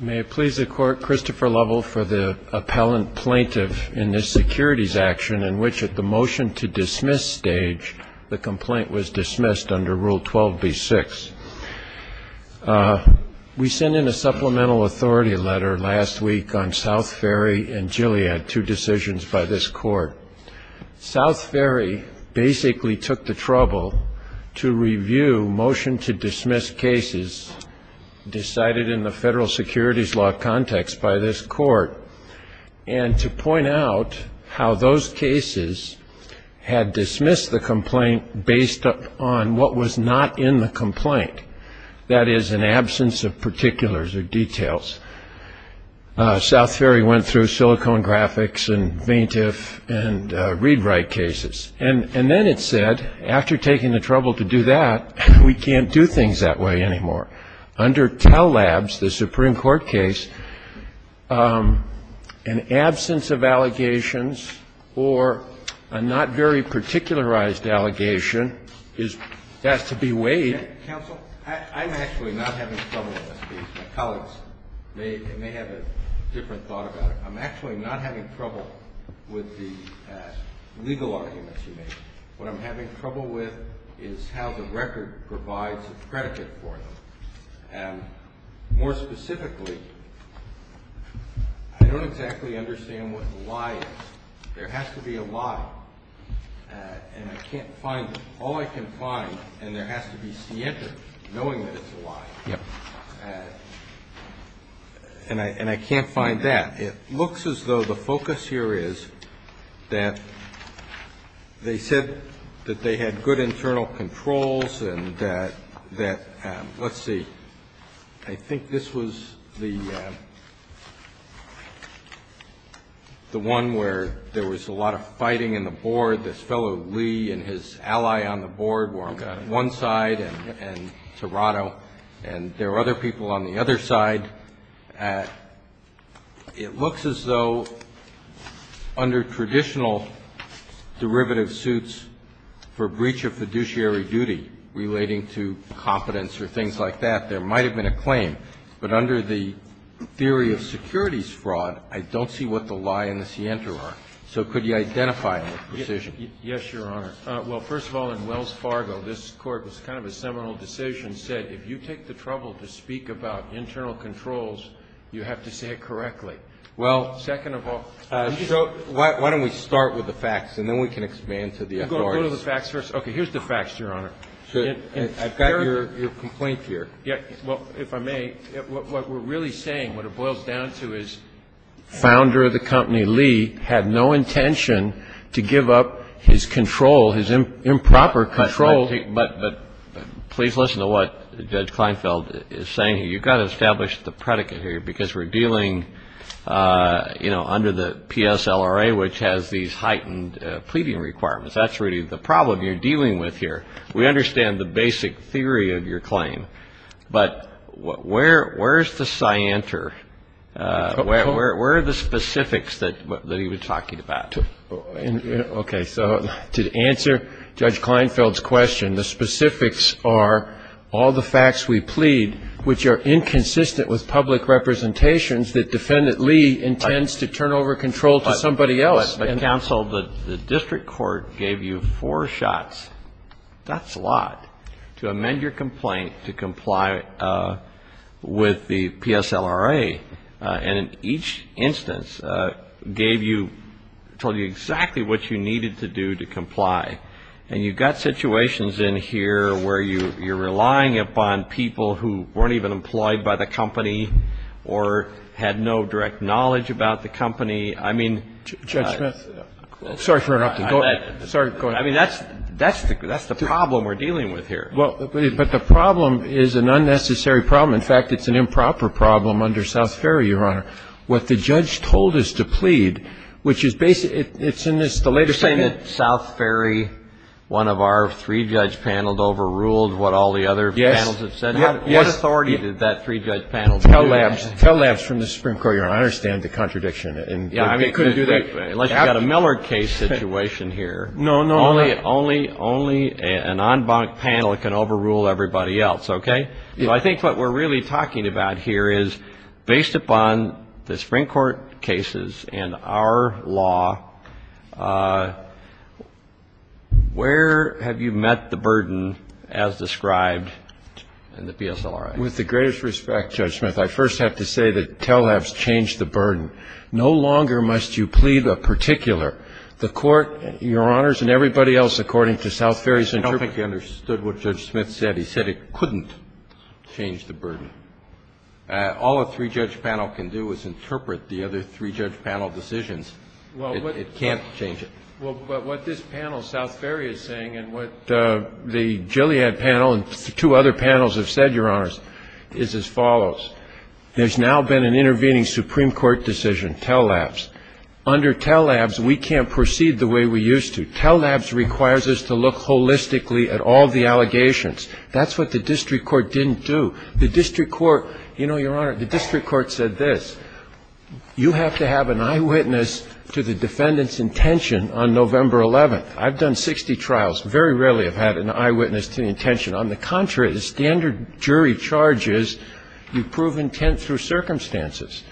May it please the Court, Christopher Lovell for the appellant plaintiff in this securities action in which at the motion-to-dismiss stage, the complaint was dismissed under Rule 12b-6. We sent in a supplemental authority letter last week on South Ferry and Gilead, two decisions by this Court. South Ferry basically took the trouble to review motion-to-dismiss cases decided in the federal securities law context by this Court, and to point out how those cases had dismissed the complaint based on what was not in the complaint, that is, an absence of particulars or details. South Ferry went through Silicon Graphics and Veintif and ReadWrite cases. And then it said, after taking the trouble to do that, we can't do things that way anymore. Under Tell Labs, the Supreme Court case, an absence of allegations or a not very particularized allegation has to be weighed. Counsel, I'm actually not having trouble in this case. My colleagues may have a different thought about it. I'm actually not having trouble with the legal arguments you made. What I'm having trouble with is how the record provides a predicate for them. More specifically, I don't exactly understand what the lie is. There has to be a lie, and I can't find it. All I can find, and there has to be scienter knowing that it's a lie. And I can't find that. It looks as though the focus here is that they said that they had good internal controls and that, let's see, I think this was the one where there was a lot of fighting in the board. This fellow Lee and his ally on the board were on one side and Toronto, and there were other people on the other side. It looks as though under traditional derivative suits for breach of fiduciary duty relating to competence or things like that, there might have been a claim. But under the theory of securities fraud, I don't see what the lie and the scienter are. So could you identify them with precision? Yes, Your Honor. Well, first of all, in Wells Fargo, this Court was kind of a seminal decision, said if you take the trouble to speak about internal controls, you have to say it correctly. Well, second of all, I'm just going to go to the facts first. Okay. Here's the facts, Your Honor. I've got your complaint here. Well, if I may, what we're really saying, what it boils down to is founder of the company Lee had no intention to give up his control, his improper control. But please listen to what Judge Kleinfeld is saying here. You've got to establish the predicate here because we're dealing, you know, under the PSLRA, which has these heightened pleading requirements. That's really the problem you're dealing with here. We understand the basic theory of your claim, but where is the scienter? Where are the specifics that he was talking about? Okay. So to answer Judge Kleinfeld's question, the specifics are all the facts we plead, which are inconsistent with public representations that Defendant Lee intends to turn over control to somebody else. Counsel, the district court gave you four shots, that's a lot, to amend your complaint to comply with the PSLRA. And in each instance gave you, told you exactly what you needed to do to comply. And you've got situations in here where you're relying upon people who weren't even employed by the company or had no direct knowledge about the company. I mean... Judge Smith. Sorry for interrupting. Sorry. Go ahead. I mean, that's the problem we're dealing with here. Well, but the problem is an unnecessary problem. In fact, it's an improper problem under South Ferry, Your Honor. What the judge told us to plead, which is basically, it's in this, the latest... You're saying that South Ferry, one of our three judge panels overruled what all the other panels have said? Yes. What authority did that three judge panel have? Tell labs from the Supreme Court, Your Honor, I understand the contradiction. Yeah, I mean, unless you've got a Miller case situation here. No, no. Only an en banc panel can overrule everybody else, okay? So I think what we're really talking about here is based upon the Supreme Court cases and our law, where have you met the burden as described in the PSLRA? With the greatest respect, Judge Smith, I first have to say that tell labs changed the burden. No longer must you plead a particular. The Court, Your Honors, and everybody else according to South Ferry's interpretation... I don't think you understood what Judge Smith said. He said it couldn't change the burden. All a three judge panel can do is interpret the other three judge panel decisions. It can't change it. Well, but what this panel, South Ferry, is saying and what the Gilead panel and two other panels have said, Your Honors, is as follows. There's now been an intervening Supreme Court decision, tell labs. Under tell labs, we can't proceed the way we used to. Tell labs requires us to look holistically at all the allegations. That's what the district court didn't do. The district court, you know, Your Honor, the district court said this. You have to have an eyewitness to the defendant's intention on November 11th. I've done 60 trials. Very rarely have I had an eyewitness to the intention. On the contrary, the standard jury charge is you prove intent through circumstances.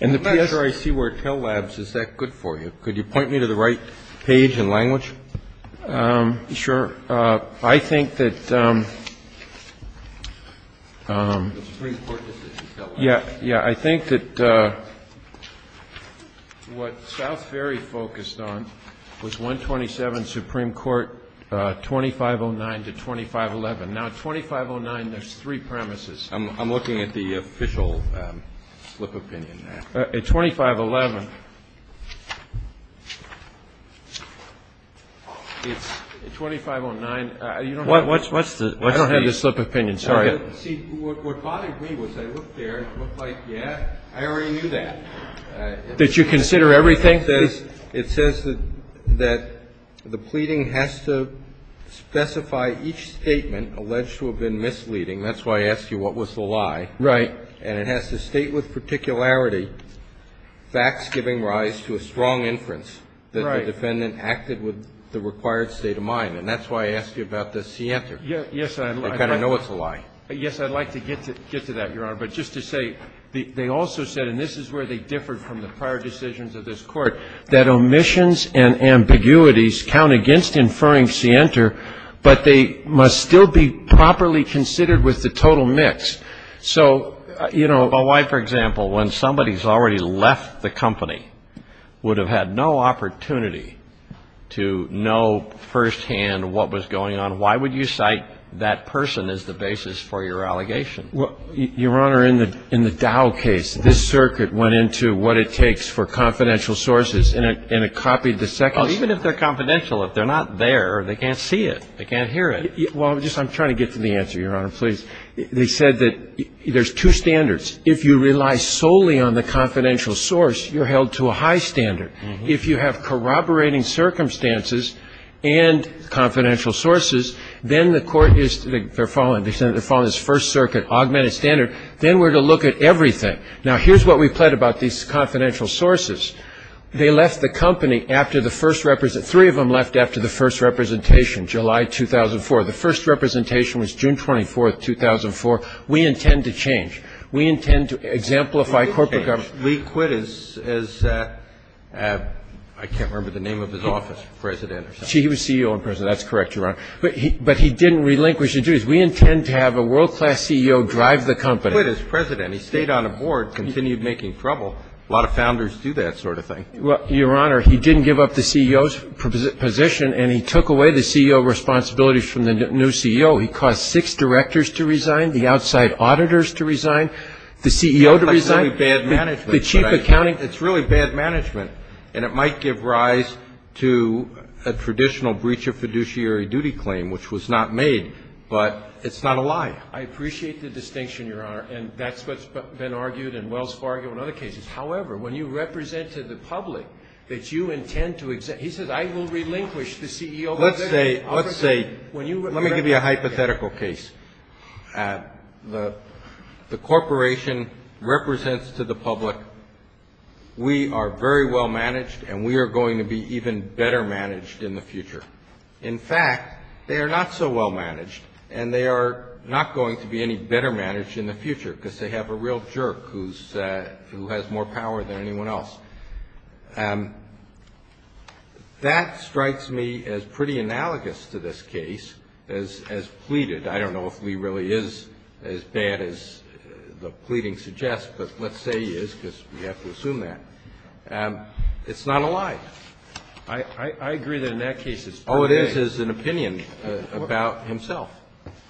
And the PSA... I'm not sure I see where tell labs is that good for you. Could you point me to the right page and language? Sure. I think that... Yeah. Yeah, I think that what South Ferry focused on was 127 Supreme Court, 2509 to 2511. Now, at 2509, there's three premises. I'm looking at the official slip of opinion there. At 2511, it's 2509. What's the... I don't have the slip of opinion. Sorry. See, what bothered me was I looked there and it looked like, yeah, I already knew that. Did you consider everything? It says that the pleading has to specify each statement alleged to have been misleading. That's why I asked you what was the lie. Right. And it has to state with particularity facts giving rise to a strong inference that the defendant acted with the required state of mind. And that's why I asked you about the scienter. Yes, I... You kind of know it's a lie. Yes, I'd like to get to that, Your Honor. But just to say, they also said, and this is where they differed from the prior decisions of this Court, that omissions and ambiguities count against inferring scienter, but they must still be properly considered with the total mix. So, you know, why, for example, when somebody's already left the company, would have had no opportunity to know firsthand what was going on, why would you cite that person as the basis for your allegation? Well, Your Honor, in the Dow case, this circuit went into what it takes for confidential sources, and it copied the second... Even if they're confidential, if they're not there, they can't see it. They can't hear it. Well, just I'm trying to get to the answer, Your Honor, please. They said that there's two standards. If you rely solely on the confidential source, you're held to a high standard. If you have corroborating circumstances and confidential sources, then the court is to the extent that they're following this First Circuit augmented standard, then we're to look at everything. Now, here's what we pled about these confidential sources. They left the company after the first... Three of them left after the first representation, July 2004. The first representation was June 24th, 2004. We intend to change. We intend to exemplify corporate governance. Lee quit as, I can't remember the name of his office, president or something. He was CEO and president. That's correct, Your Honor. But he didn't relinquish his duties. We intend to have a world-class CEO drive the company. He quit as president. He stayed on the board, continued making trouble. A lot of founders do that sort of thing. Well, Your Honor, he didn't give up the CEO's position, and he took away the CEO responsibilities from the new CEO. He caused six directors to resign, the outside auditors to resign, the CEO to resign. It's really bad management. The chief accounting. It's really bad management, and it might give rise to a traditional breach of fiduciary duty claim, which was not made. But it's not a lie. I appreciate the distinction, Your Honor, and that's what's been argued in Wells Fargo and other cases. However, when you represent to the public that you intend to exempt, he says, I will relinquish the CEO position. Let's say, let's say, let me give you a hypothetical case. The corporation represents to the public, we are very well managed, and we are going to be even better managed in the future. In fact, they are not so well managed, and they are not going to be any better managed in the future, because they have a real jerk who has more power than anyone else. That strikes me as pretty analogous to this case, as pleaded. I don't know if Lee really is as bad as the pleading suggests, but let's say he is, because we have to assume that. It's not a lie. I agree that in that case it's pretty vague. All it is is an opinion about himself.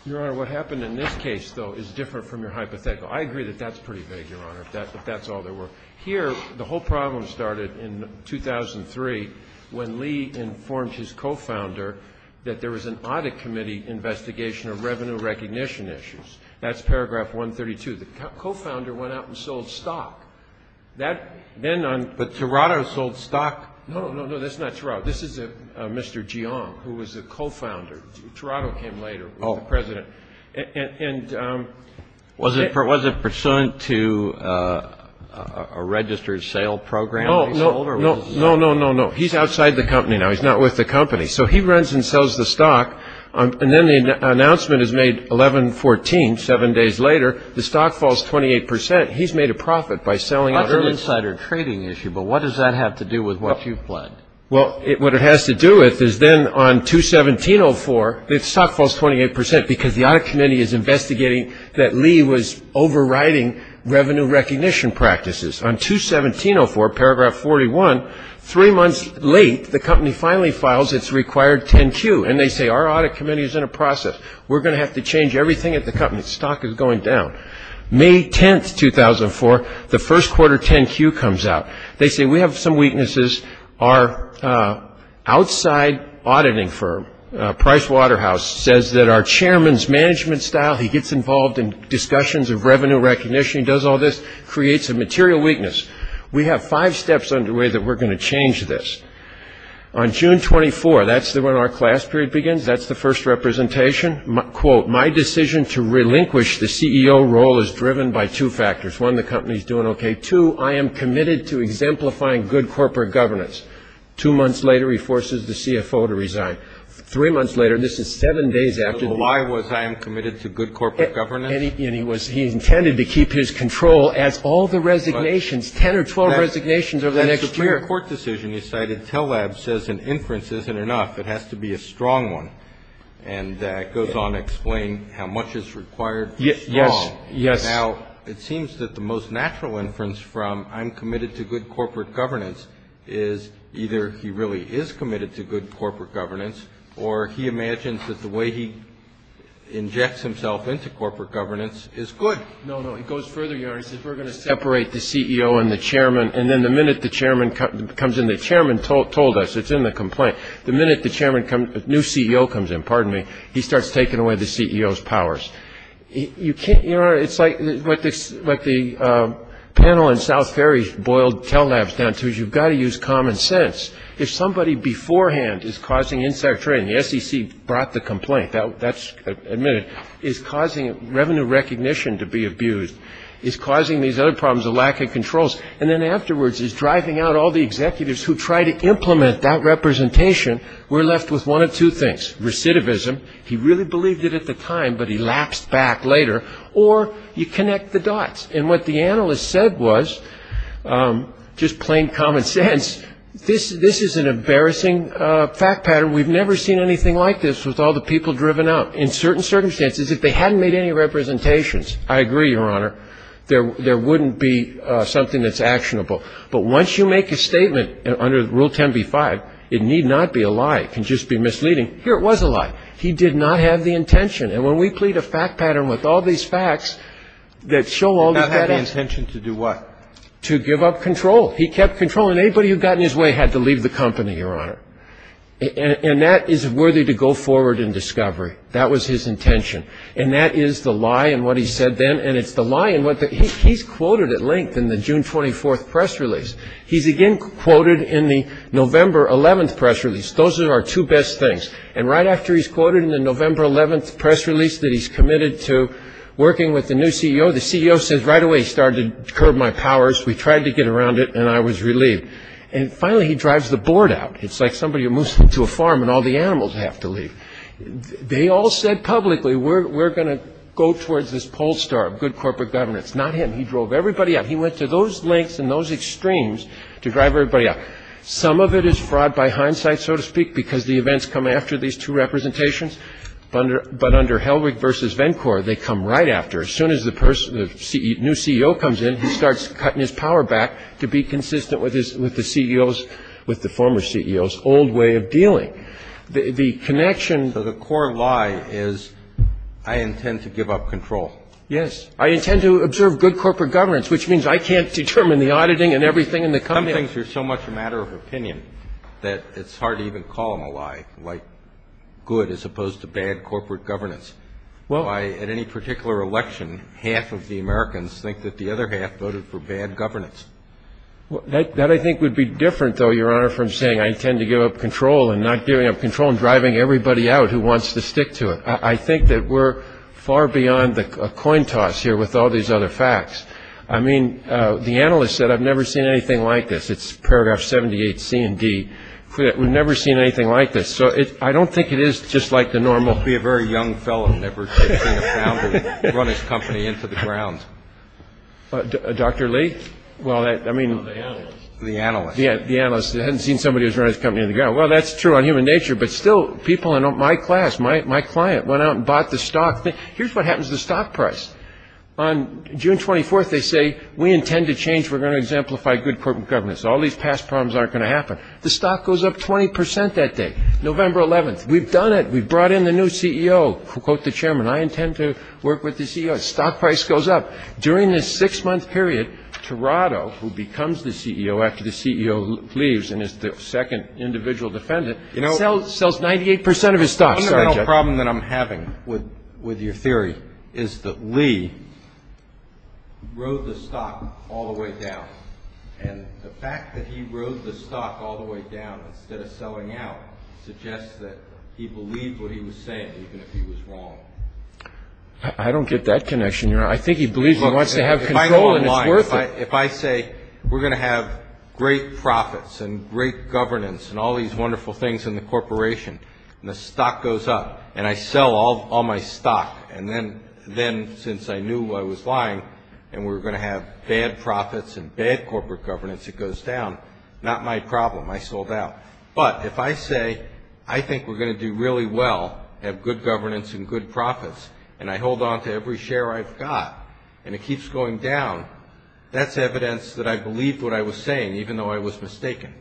Your Honor, what happened in this case, though, is different from your hypothetical. I agree that that's pretty vague, Your Honor, if that's all there was. Here, the whole problem started in 2003 when Lee informed his co-founder that there was an audit committee investigation of revenue recognition issues. That's paragraph 132. The co-founder went out and sold stock. But Toronto sold stock. No, no, no, that's not Toronto. This is Mr. Jiang, who was the co-founder. Toronto came later with the president. Was it pursuant to a registered sale program? No, no, no, no, no, no. He's outside the company now. He's not with the company. So he runs and sells the stock. And then the announcement is made 11-14, seven days later. The stock falls 28 percent. He's made a profit by selling it. That's an insider trading issue, but what does that have to do with what you've pledged? Well, what it has to do with is then on 217-04, the stock falls 28 percent because the audit committee is investigating that Lee was overriding revenue recognition practices. On 217-04, paragraph 41, three months late, the company finally files its required 10-Q. And they say, our audit committee is in a process. We're going to have to change everything at the company. The stock is going down. May 10, 2004, the first quarter 10-Q comes out. They say, we have some weaknesses. Our outside auditing firm, Pricewaterhouse, says that our chairman's management style, he gets involved in discussions of revenue recognition, he does all this, creates a material weakness. We have five steps underway that we're going to change this. On June 24, that's when our class period begins. That's the first representation. Quote, my decision to relinquish the CEO role is driven by two factors. One, the company is doing okay. Two, I am committed to exemplifying good corporate governance. Two months later, he forces the CFO to resign. Three months later, this is seven days after the – So why was I am committed to good corporate governance? And he was – he intended to keep his control as all the resignations, 10 or 12 resignations over the next year. That's a clear court decision you cited. Tellab says an inference isn't enough. It has to be a strong one. And that goes on to explain how much is required for strong. Yes, yes. Now, it seems that the most natural inference from I'm committed to good corporate governance is either he really is committed to good corporate governance or he imagines that the way he injects himself into corporate governance is good. No, no. It goes further, Your Honor. He says we're going to separate the CEO and the chairman. And then the minute the chairman comes in – the chairman told us. It's in the complaint. The minute the chairman comes – new CEO comes in, pardon me, he starts taking away the CEO's powers. You can't – Your Honor, it's like what the panel in South Ferry's boiled Tellab down to. You've got to use common sense. If somebody beforehand is causing insider trading – the SEC brought the complaint. That's admitted – is causing revenue recognition to be abused, is causing these other problems of lack of controls, and then afterwards is driving out all the executives who try to implement that representation, we're left with one of two things. Recidivism. He really believed it at the time, but he lapsed back later. Or you connect the dots. And what the analyst said was, just plain common sense, this is an embarrassing fact pattern. We've never seen anything like this with all the people driven out. In certain circumstances, if they hadn't made any representations, I agree, Your Honor, there wouldn't be something that's actionable. But once you make a statement under Rule 10b-5, it need not be a lie. It can just be misleading. Here it was a lie. He did not have the intention. And when we plead a fact pattern with all these facts that show all these facts – He did not have the intention to do what? To give up control. He kept control. And anybody who got in his way had to leave the company, Your Honor. And that is worthy to go forward in discovery. That was his intention. And that is the lie in what he said then, and it's the lie in what the – he's quoted at length in the June 24th press release. He's again quoted in the November 11th press release. Those are our two best things. And right after he's quoted in the November 11th press release that he's committed to working with the new CEO, the CEO says right away, he started to curb my powers. We tried to get around it, and I was relieved. And finally, he drives the board out. It's like somebody who moves into a farm and all the animals have to leave. They all said publicly, we're going to go towards this poll star, good corporate governance. Not him. He drove everybody out. He went to those lengths and those extremes to drive everybody out. Some of it is fraud by hindsight, so to speak, because the events come after these two representations. But under Hellwig v. Vencore, they come right after. As soon as the person – the new CEO comes in, he starts cutting his power back to be consistent with his – with the CEO's – with the former CEO's old way of dealing. The connection – So the core lie is I intend to give up control. Yes. I intend to observe good corporate governance, which means I can't determine the auditing and everything in the company. Some things are so much a matter of opinion that it's hard to even call them a lie, like good as opposed to bad corporate governance. Why, at any particular election, half of the Americans think that the other half voted for bad governance? That, I think, would be different, though, Your Honor, from saying I intend to give up control and not giving up control and driving everybody out who wants to stick to it. I think that we're far beyond the coin toss here with all these other facts. I mean, the analyst said, I've never seen anything like this. It's paragraph 78, C and D. We've never seen anything like this. So I don't think it is just like the normal – He must be a very young fellow, never to have seen a founder run his company into the ground. Dr. Lee? Well, I mean – The analyst. The analyst. Yeah, the analyst. He hasn't seen somebody who's run his company into the ground. Well, that's true on human nature, but still, people in my class, my client, went out and bought the stock. Here's what happens to the stock price. On June 24th, they say, we intend to change. We're going to exemplify good corporate governance. All these past problems aren't going to happen. The stock goes up 20 percent that day, November 11th. We've done it. We've brought in the new CEO. Quote the chairman, I intend to work with the CEO. The stock price goes up. During this six-month period, Tirado, who becomes the CEO after the CEO leaves and is the second individual defendant, sells 98 percent of his stock. The fundamental problem that I'm having with your theory is that Lee rode the stock all the way down, and the fact that he rode the stock all the way down instead of selling out suggests that he believed what he was saying, even if he was wrong. I don't get that connection. I think he believes he wants to have control, and it's worth it. If I say, we're going to have great profits and great governance and all these wonderful things in the corporation, and the stock goes up, and I sell all my stock, and then since I knew I was lying, and we're going to have bad profits and bad corporate governance, it goes down, not my problem. I sold out. But if I say, I think we're going to do really well, have good governance and good profits, and I hold on to every share I've got, and it keeps going down, that's evidence that I believed what I was saying, even though I was mistaken.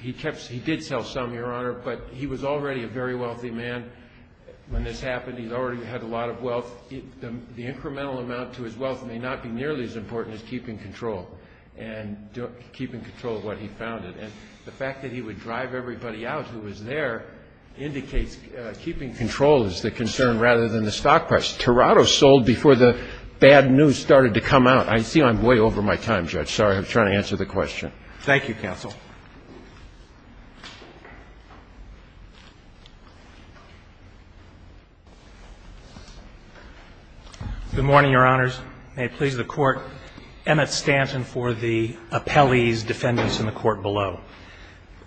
He did sell some, Your Honor, but he was already a very wealthy man when this happened. He already had a lot of wealth. The incremental amount to his wealth may not be nearly as important as keeping control, and keeping control of what he founded. And the fact that he would drive everybody out who was there indicates keeping control is the concern rather than the stock price. Tirado sold before the bad news started to come out. I see I'm way over my time, Judge. Sorry, I'm trying to answer the question. Thank you, counsel. Good morning, Your Honors. May it please the Court. Emmett Stanton for the appellee's defendants in the court below.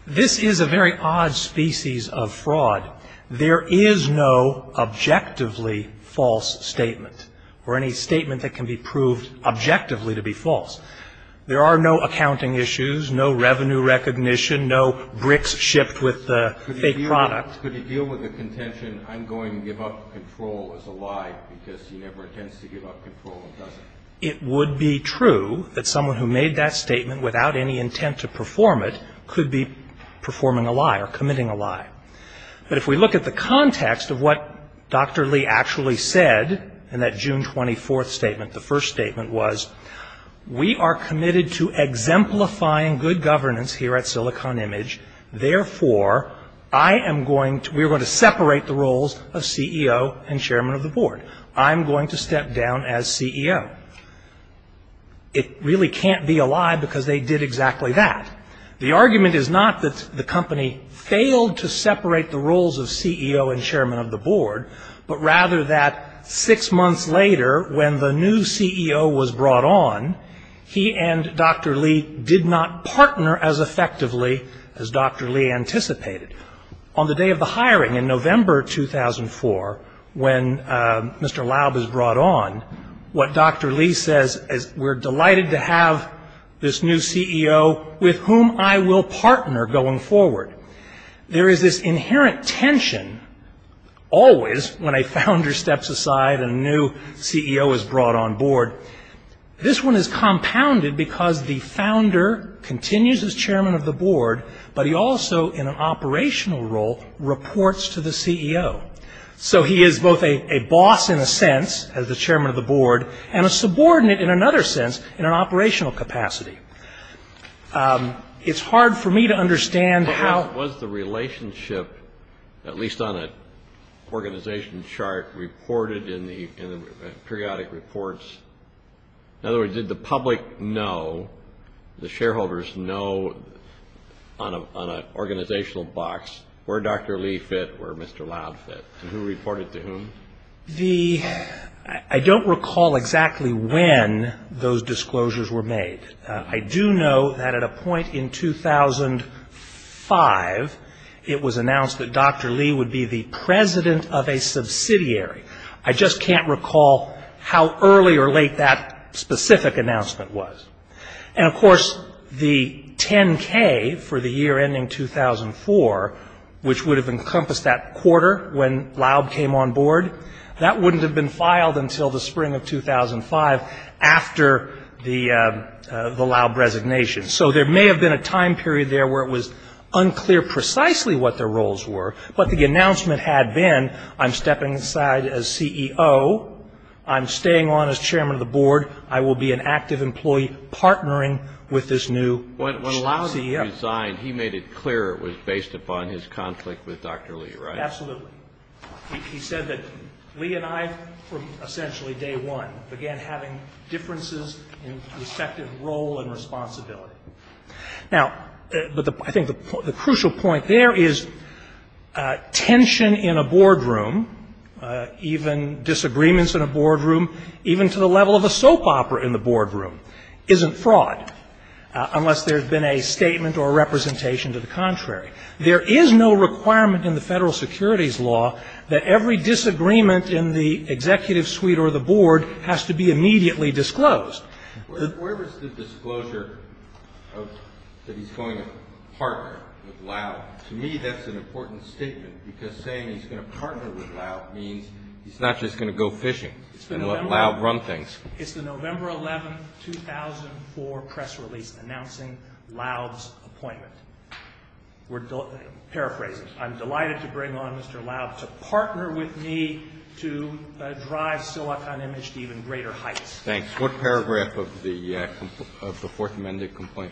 This is a very odd species of fraud. There is no objectively false statement or any statement that can be proved objectively to be false. There are no accounting issues, no revenue recognition, no bricks shipped with a fake product. Could he deal with the contention I'm going to give up control as a lie because he never intends to give up control and doesn't? It would be true that someone who made that statement without any intent to perform it could be performing a lie or committing a lie. But if we look at the context of what Dr. Lee actually said in that June 24th statement, the first statement was, we are committed to exemplifying good governance here at Silicon Image. Therefore, I am going to we're going to separate the roles of CEO and chairman of the board. I'm going to step down as CEO. It really can't be a lie because they did exactly that. The argument is not that the company failed to separate the roles of CEO and chairman of the board, but rather that six months later when the new CEO was brought on, he and Dr. Lee did not partner as effectively as Dr. Lee anticipated. On the day of the hiring in November 2004, when Mr. Laub is brought on, what Dr. Lee says is, we're delighted to have this new CEO with whom I will partner going forward. There is this inherent tension always when a founder steps aside and a new CEO is brought on board. This one is compounded because the founder continues as chairman of the board, but he also in an operational role reports to the CEO. So he is both a boss in a sense, as the chairman of the board, and a subordinate in another sense in an operational capacity. It's hard for me to understand how... Was the relationship, at least on an organization chart, reported in the periodic reports? In other words, did the public know, the shareholders know, on an organizational box, where Dr. Lee fit, where Mr. Laub fit, and who reported to whom? I don't recall exactly when those disclosures were made. I do know that at a point in 2005, it was announced that Dr. Lee would be the president of a subsidiary. I just can't recall how early or late that specific announcement was. And, of course, the 10K for the year ending 2004, which would have encompassed that quarter when Laub came on board, that wouldn't have been filed until the spring of 2005 after the Laub resignation. So there may have been a time period there where it was unclear precisely what their roles were, but the announcement had been, I'm stepping aside as CEO, I'm staying on as chairman of the board, I will be an active employee partnering with this new CEO. When Laub resigned, he made it clear it was based upon his conflict with Dr. Lee, right? Absolutely. He said that Lee and I from essentially day one began having differences in respective role and responsibility. Now, I think the crucial point there is tension in a boardroom, even disagreements in a boardroom, even to the level of a soap opera in the boardroom isn't fraud unless there's been a statement or representation to the contrary. There is no requirement in the federal securities law that every disagreement in the executive suite or the board has to be immediately disclosed. Where was the disclosure of that he's going to partner with Laub? To me, that's an important statement because saying he's going to partner with Laub means he's not just going to go fishing. Laub run things. It's the November 11, 2004, press release announcing Laub's appointment. Paraphrasing, I'm delighted to bring on Mr. Laub to partner with me to drive Silicon Image to even greater heights. Thanks. What paragraph of the fourth amended complaint?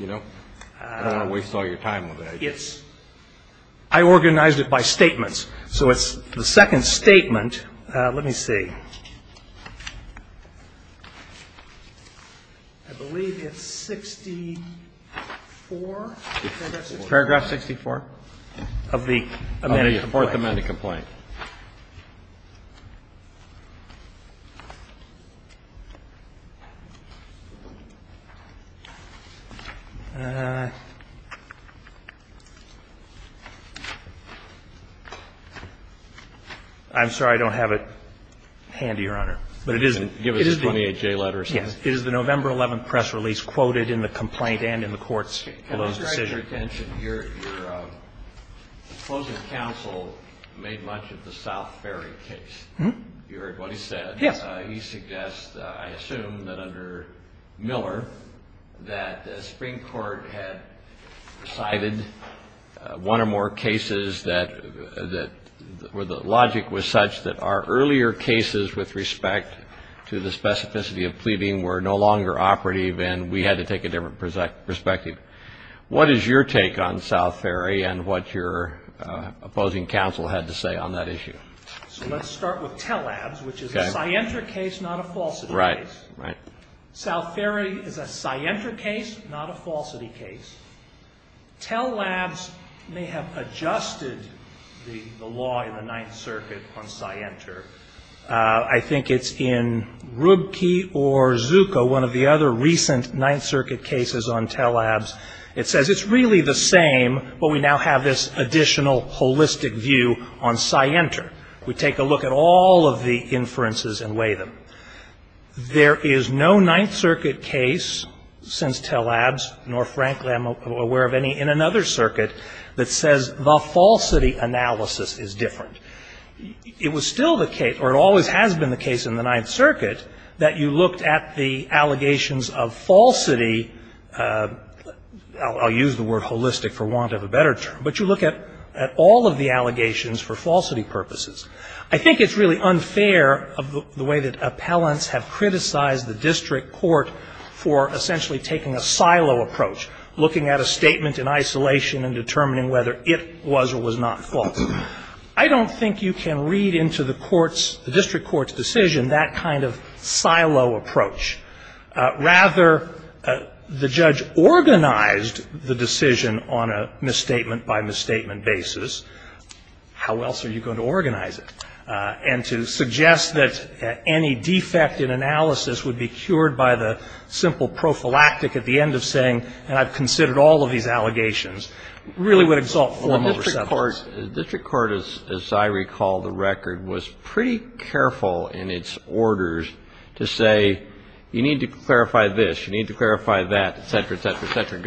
I don't want to waste all your time with that. I organized it by statements. So it's the second statement. Let me see. I believe it's 64? Paragraph 64? Of the amended complaint. Of the fourth amended complaint. I'm sorry. I don't have it handy, Your Honor. But it is. Give us the 28J letters. Yes. It is the November 11 press release quoted in the complaint and in the court's decision. Your closing counsel made much of the South Ferry case. You heard what he said. Yes. He suggests, I assume, that under Miller that the Supreme Court had decided one or more cases that the logic was such that our earlier cases with respect to the specificity of pleading were no longer operative and we had to take a different perspective. What is your take on South Ferry and what your opposing counsel had to say on that issue? So let's start with Tell Labs, which is a Scientra case, not a falsity case. Right. Right. South Ferry is a Scientra case, not a falsity case. Tell Labs may have adjusted the law in the Ninth Circuit on Scientra. I think it's in Rubke or Zucco, one of the other recent Ninth Circuit cases on Tell Labs. It says it's really the same, but we now have this additional holistic view on Scientra. We take a look at all of the inferences and weigh them. There is no Ninth Circuit case since Tell Labs, nor frankly am I aware of any in another circuit, that says the falsity analysis is different. It was still the case, or it always has been the case in the Ninth Circuit, that you looked at the allegations of falsity. I'll use the word holistic for want of a better term. But you look at all of the allegations for falsity purposes. I think it's really unfair of the way that appellants have criticized the district court for essentially taking a silo approach, looking at a statement in isolation and determining whether it was or was not false. I don't think you can read into the court's, the district court's decision that kind of silo approach. Rather, the judge organized the decision on a misstatement by misstatement basis. How else are you going to organize it? And to suggest that any defect in analysis would be cured by the simple prophylactic at the end of saying, and I've considered all of these allegations, really would exalt form over substance. The district court, as I recall the record, was pretty careful in its orders to say you need to clarify this, you need to clarify that, et cetera, et cetera, et cetera,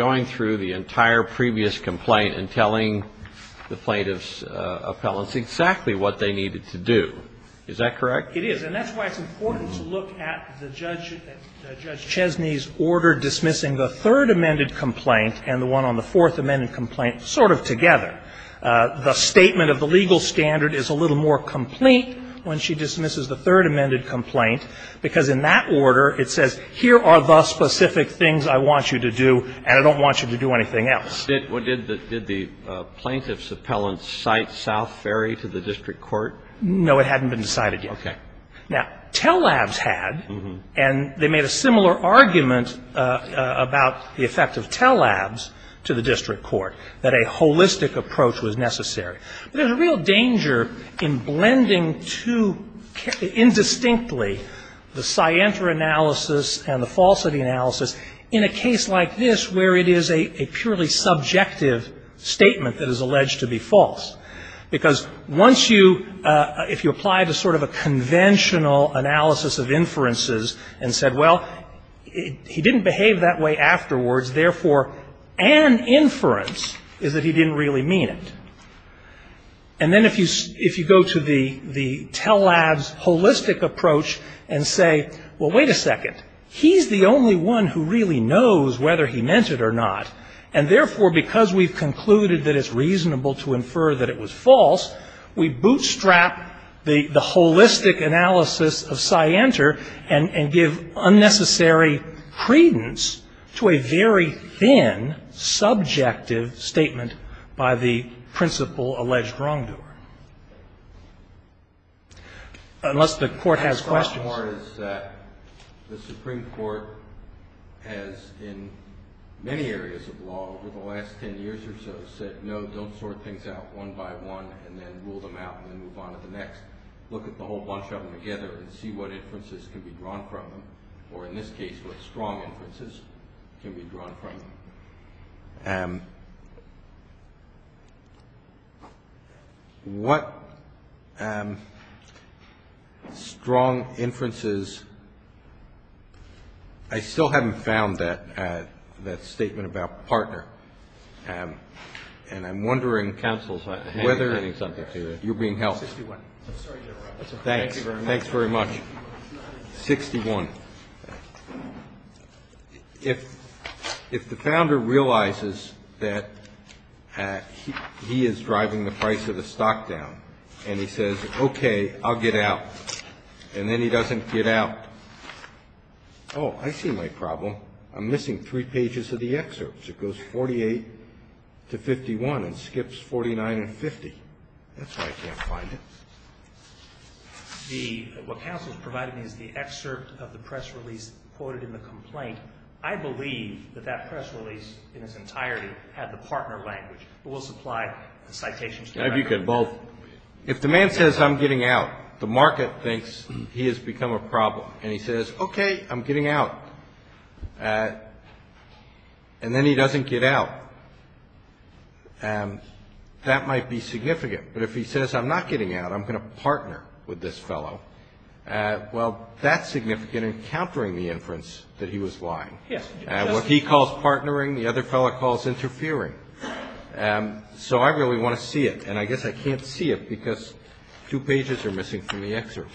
And that's why it's important to look at the judge, Judge Chesney's order dismissing the third amended complaint and the one on the fourth amended complaint sort of together. The statement of the legal standard is a little more complete when she dismisses the third amended complaint, because in that order it says, here are the specific things I want you to do, I don't want you to do anything else. Kennedy. Did the plaintiff's appellant cite South Ferry to the district court? No. It hadn't been decided yet. Okay. Now, Tell Labs had, and they made a similar argument about the effect of Tell Labs to the district court, that a holistic approach was necessary. But there's a real danger in blending too indistinctly the scienter analysis and the falsity analysis in a case like this where it is a purely subjective statement that is alleged to be false. Because once you, if you apply to sort of a conventional analysis of inferences and said, well, he didn't behave that way afterwards, therefore an inference is that he didn't really mean it. And then if you go to the Tell Labs holistic approach and say, well, wait a second, he's the only one who really knows whether he meant it or not, and therefore because we've concluded that it's reasonable to infer that it was false, we bootstrap the holistic analysis of scienter and give unnecessary credence to a very thin subjective statement by the principal alleged wrongdoer. Unless the court has questions. The Supreme Court has in many areas of law over the last ten years or so said, no, don't sort things out one by one and then rule them out and then move on to the next. Look at the whole bunch of them together and see what inferences can be drawn from them, or in this case what strong inferences can be drawn from them. What strong inferences? I still haven't found that statement about partner. And I'm wondering whether you're being held. Thanks. Thanks very much. 61. If the founder realizes that he is driving the price of the stock down and he says, okay, I'll get out, and then he doesn't get out, oh, I see my problem. I'm missing three pages of the excerpts. It goes 48 to 51 and skips 49 and 50. That's why I can't find it. What counsel has provided me is the excerpt of the press release quoted in the complaint. I believe that that press release in its entirety had the partner language, but we'll supply the citations directly. If you could both. If the man says I'm getting out, the market thinks he has become a problem, and he says, okay, I'm getting out, and then he doesn't get out, that might be significant. But if he says I'm not getting out, I'm going to partner with this fellow, well, that's significant in countering the inference that he was lying. What he calls partnering, the other fellow calls interfering. So I really want to see it. And I guess I can't see it because two pages are missing from the excerpt.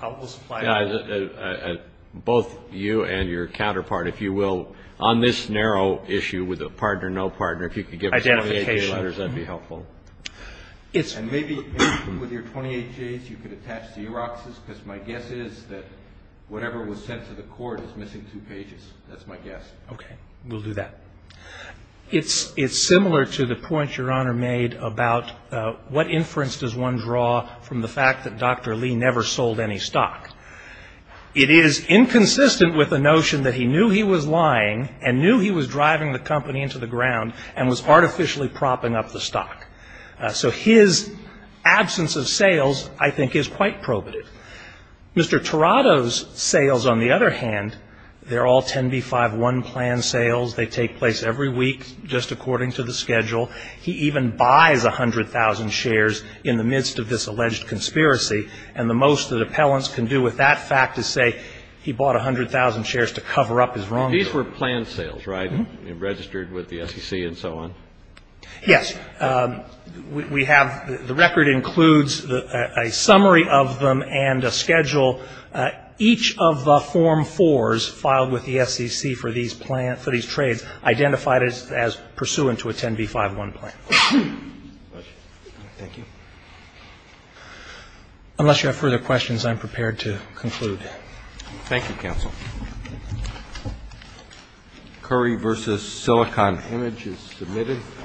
We'll supply it. Both you and your counterpart, if you will, on this narrow issue with a partner, no partner, if you could give me some of the letters, that would be helpful. And maybe with your 28Js you could attach Xeroxes, because my guess is that whatever was sent to the court is missing two pages. That's my guess. Okay. We'll do that. It's similar to the point your Honor made about what inference does one draw from the fact that Dr. Lee never sold any stock. It is inconsistent with the notion that he knew he was lying and knew he was driving the company into the ground and was artificially propping up the stock. So his absence of sales, I think, is quite probative. Mr. Tirado's sales, on the other hand, they're all 10B-5-1 planned sales. They take place every week just according to the schedule. He even buys 100,000 shares in the midst of this alleged conspiracy. And the most that appellants can do with that fact is say he bought 100,000 shares to cover up his wrongdoing. These were planned sales, right, registered with the SEC and so on? Yes. The record includes a summary of them and a schedule. Each of the Form 4s filed with the SEC for these trades identified as pursuant to a 10B-5-1 plan. Thank you. Unless you have further questions, I'm prepared to conclude. Thank you, Counsel. Curry v. Silicon Image is submitted.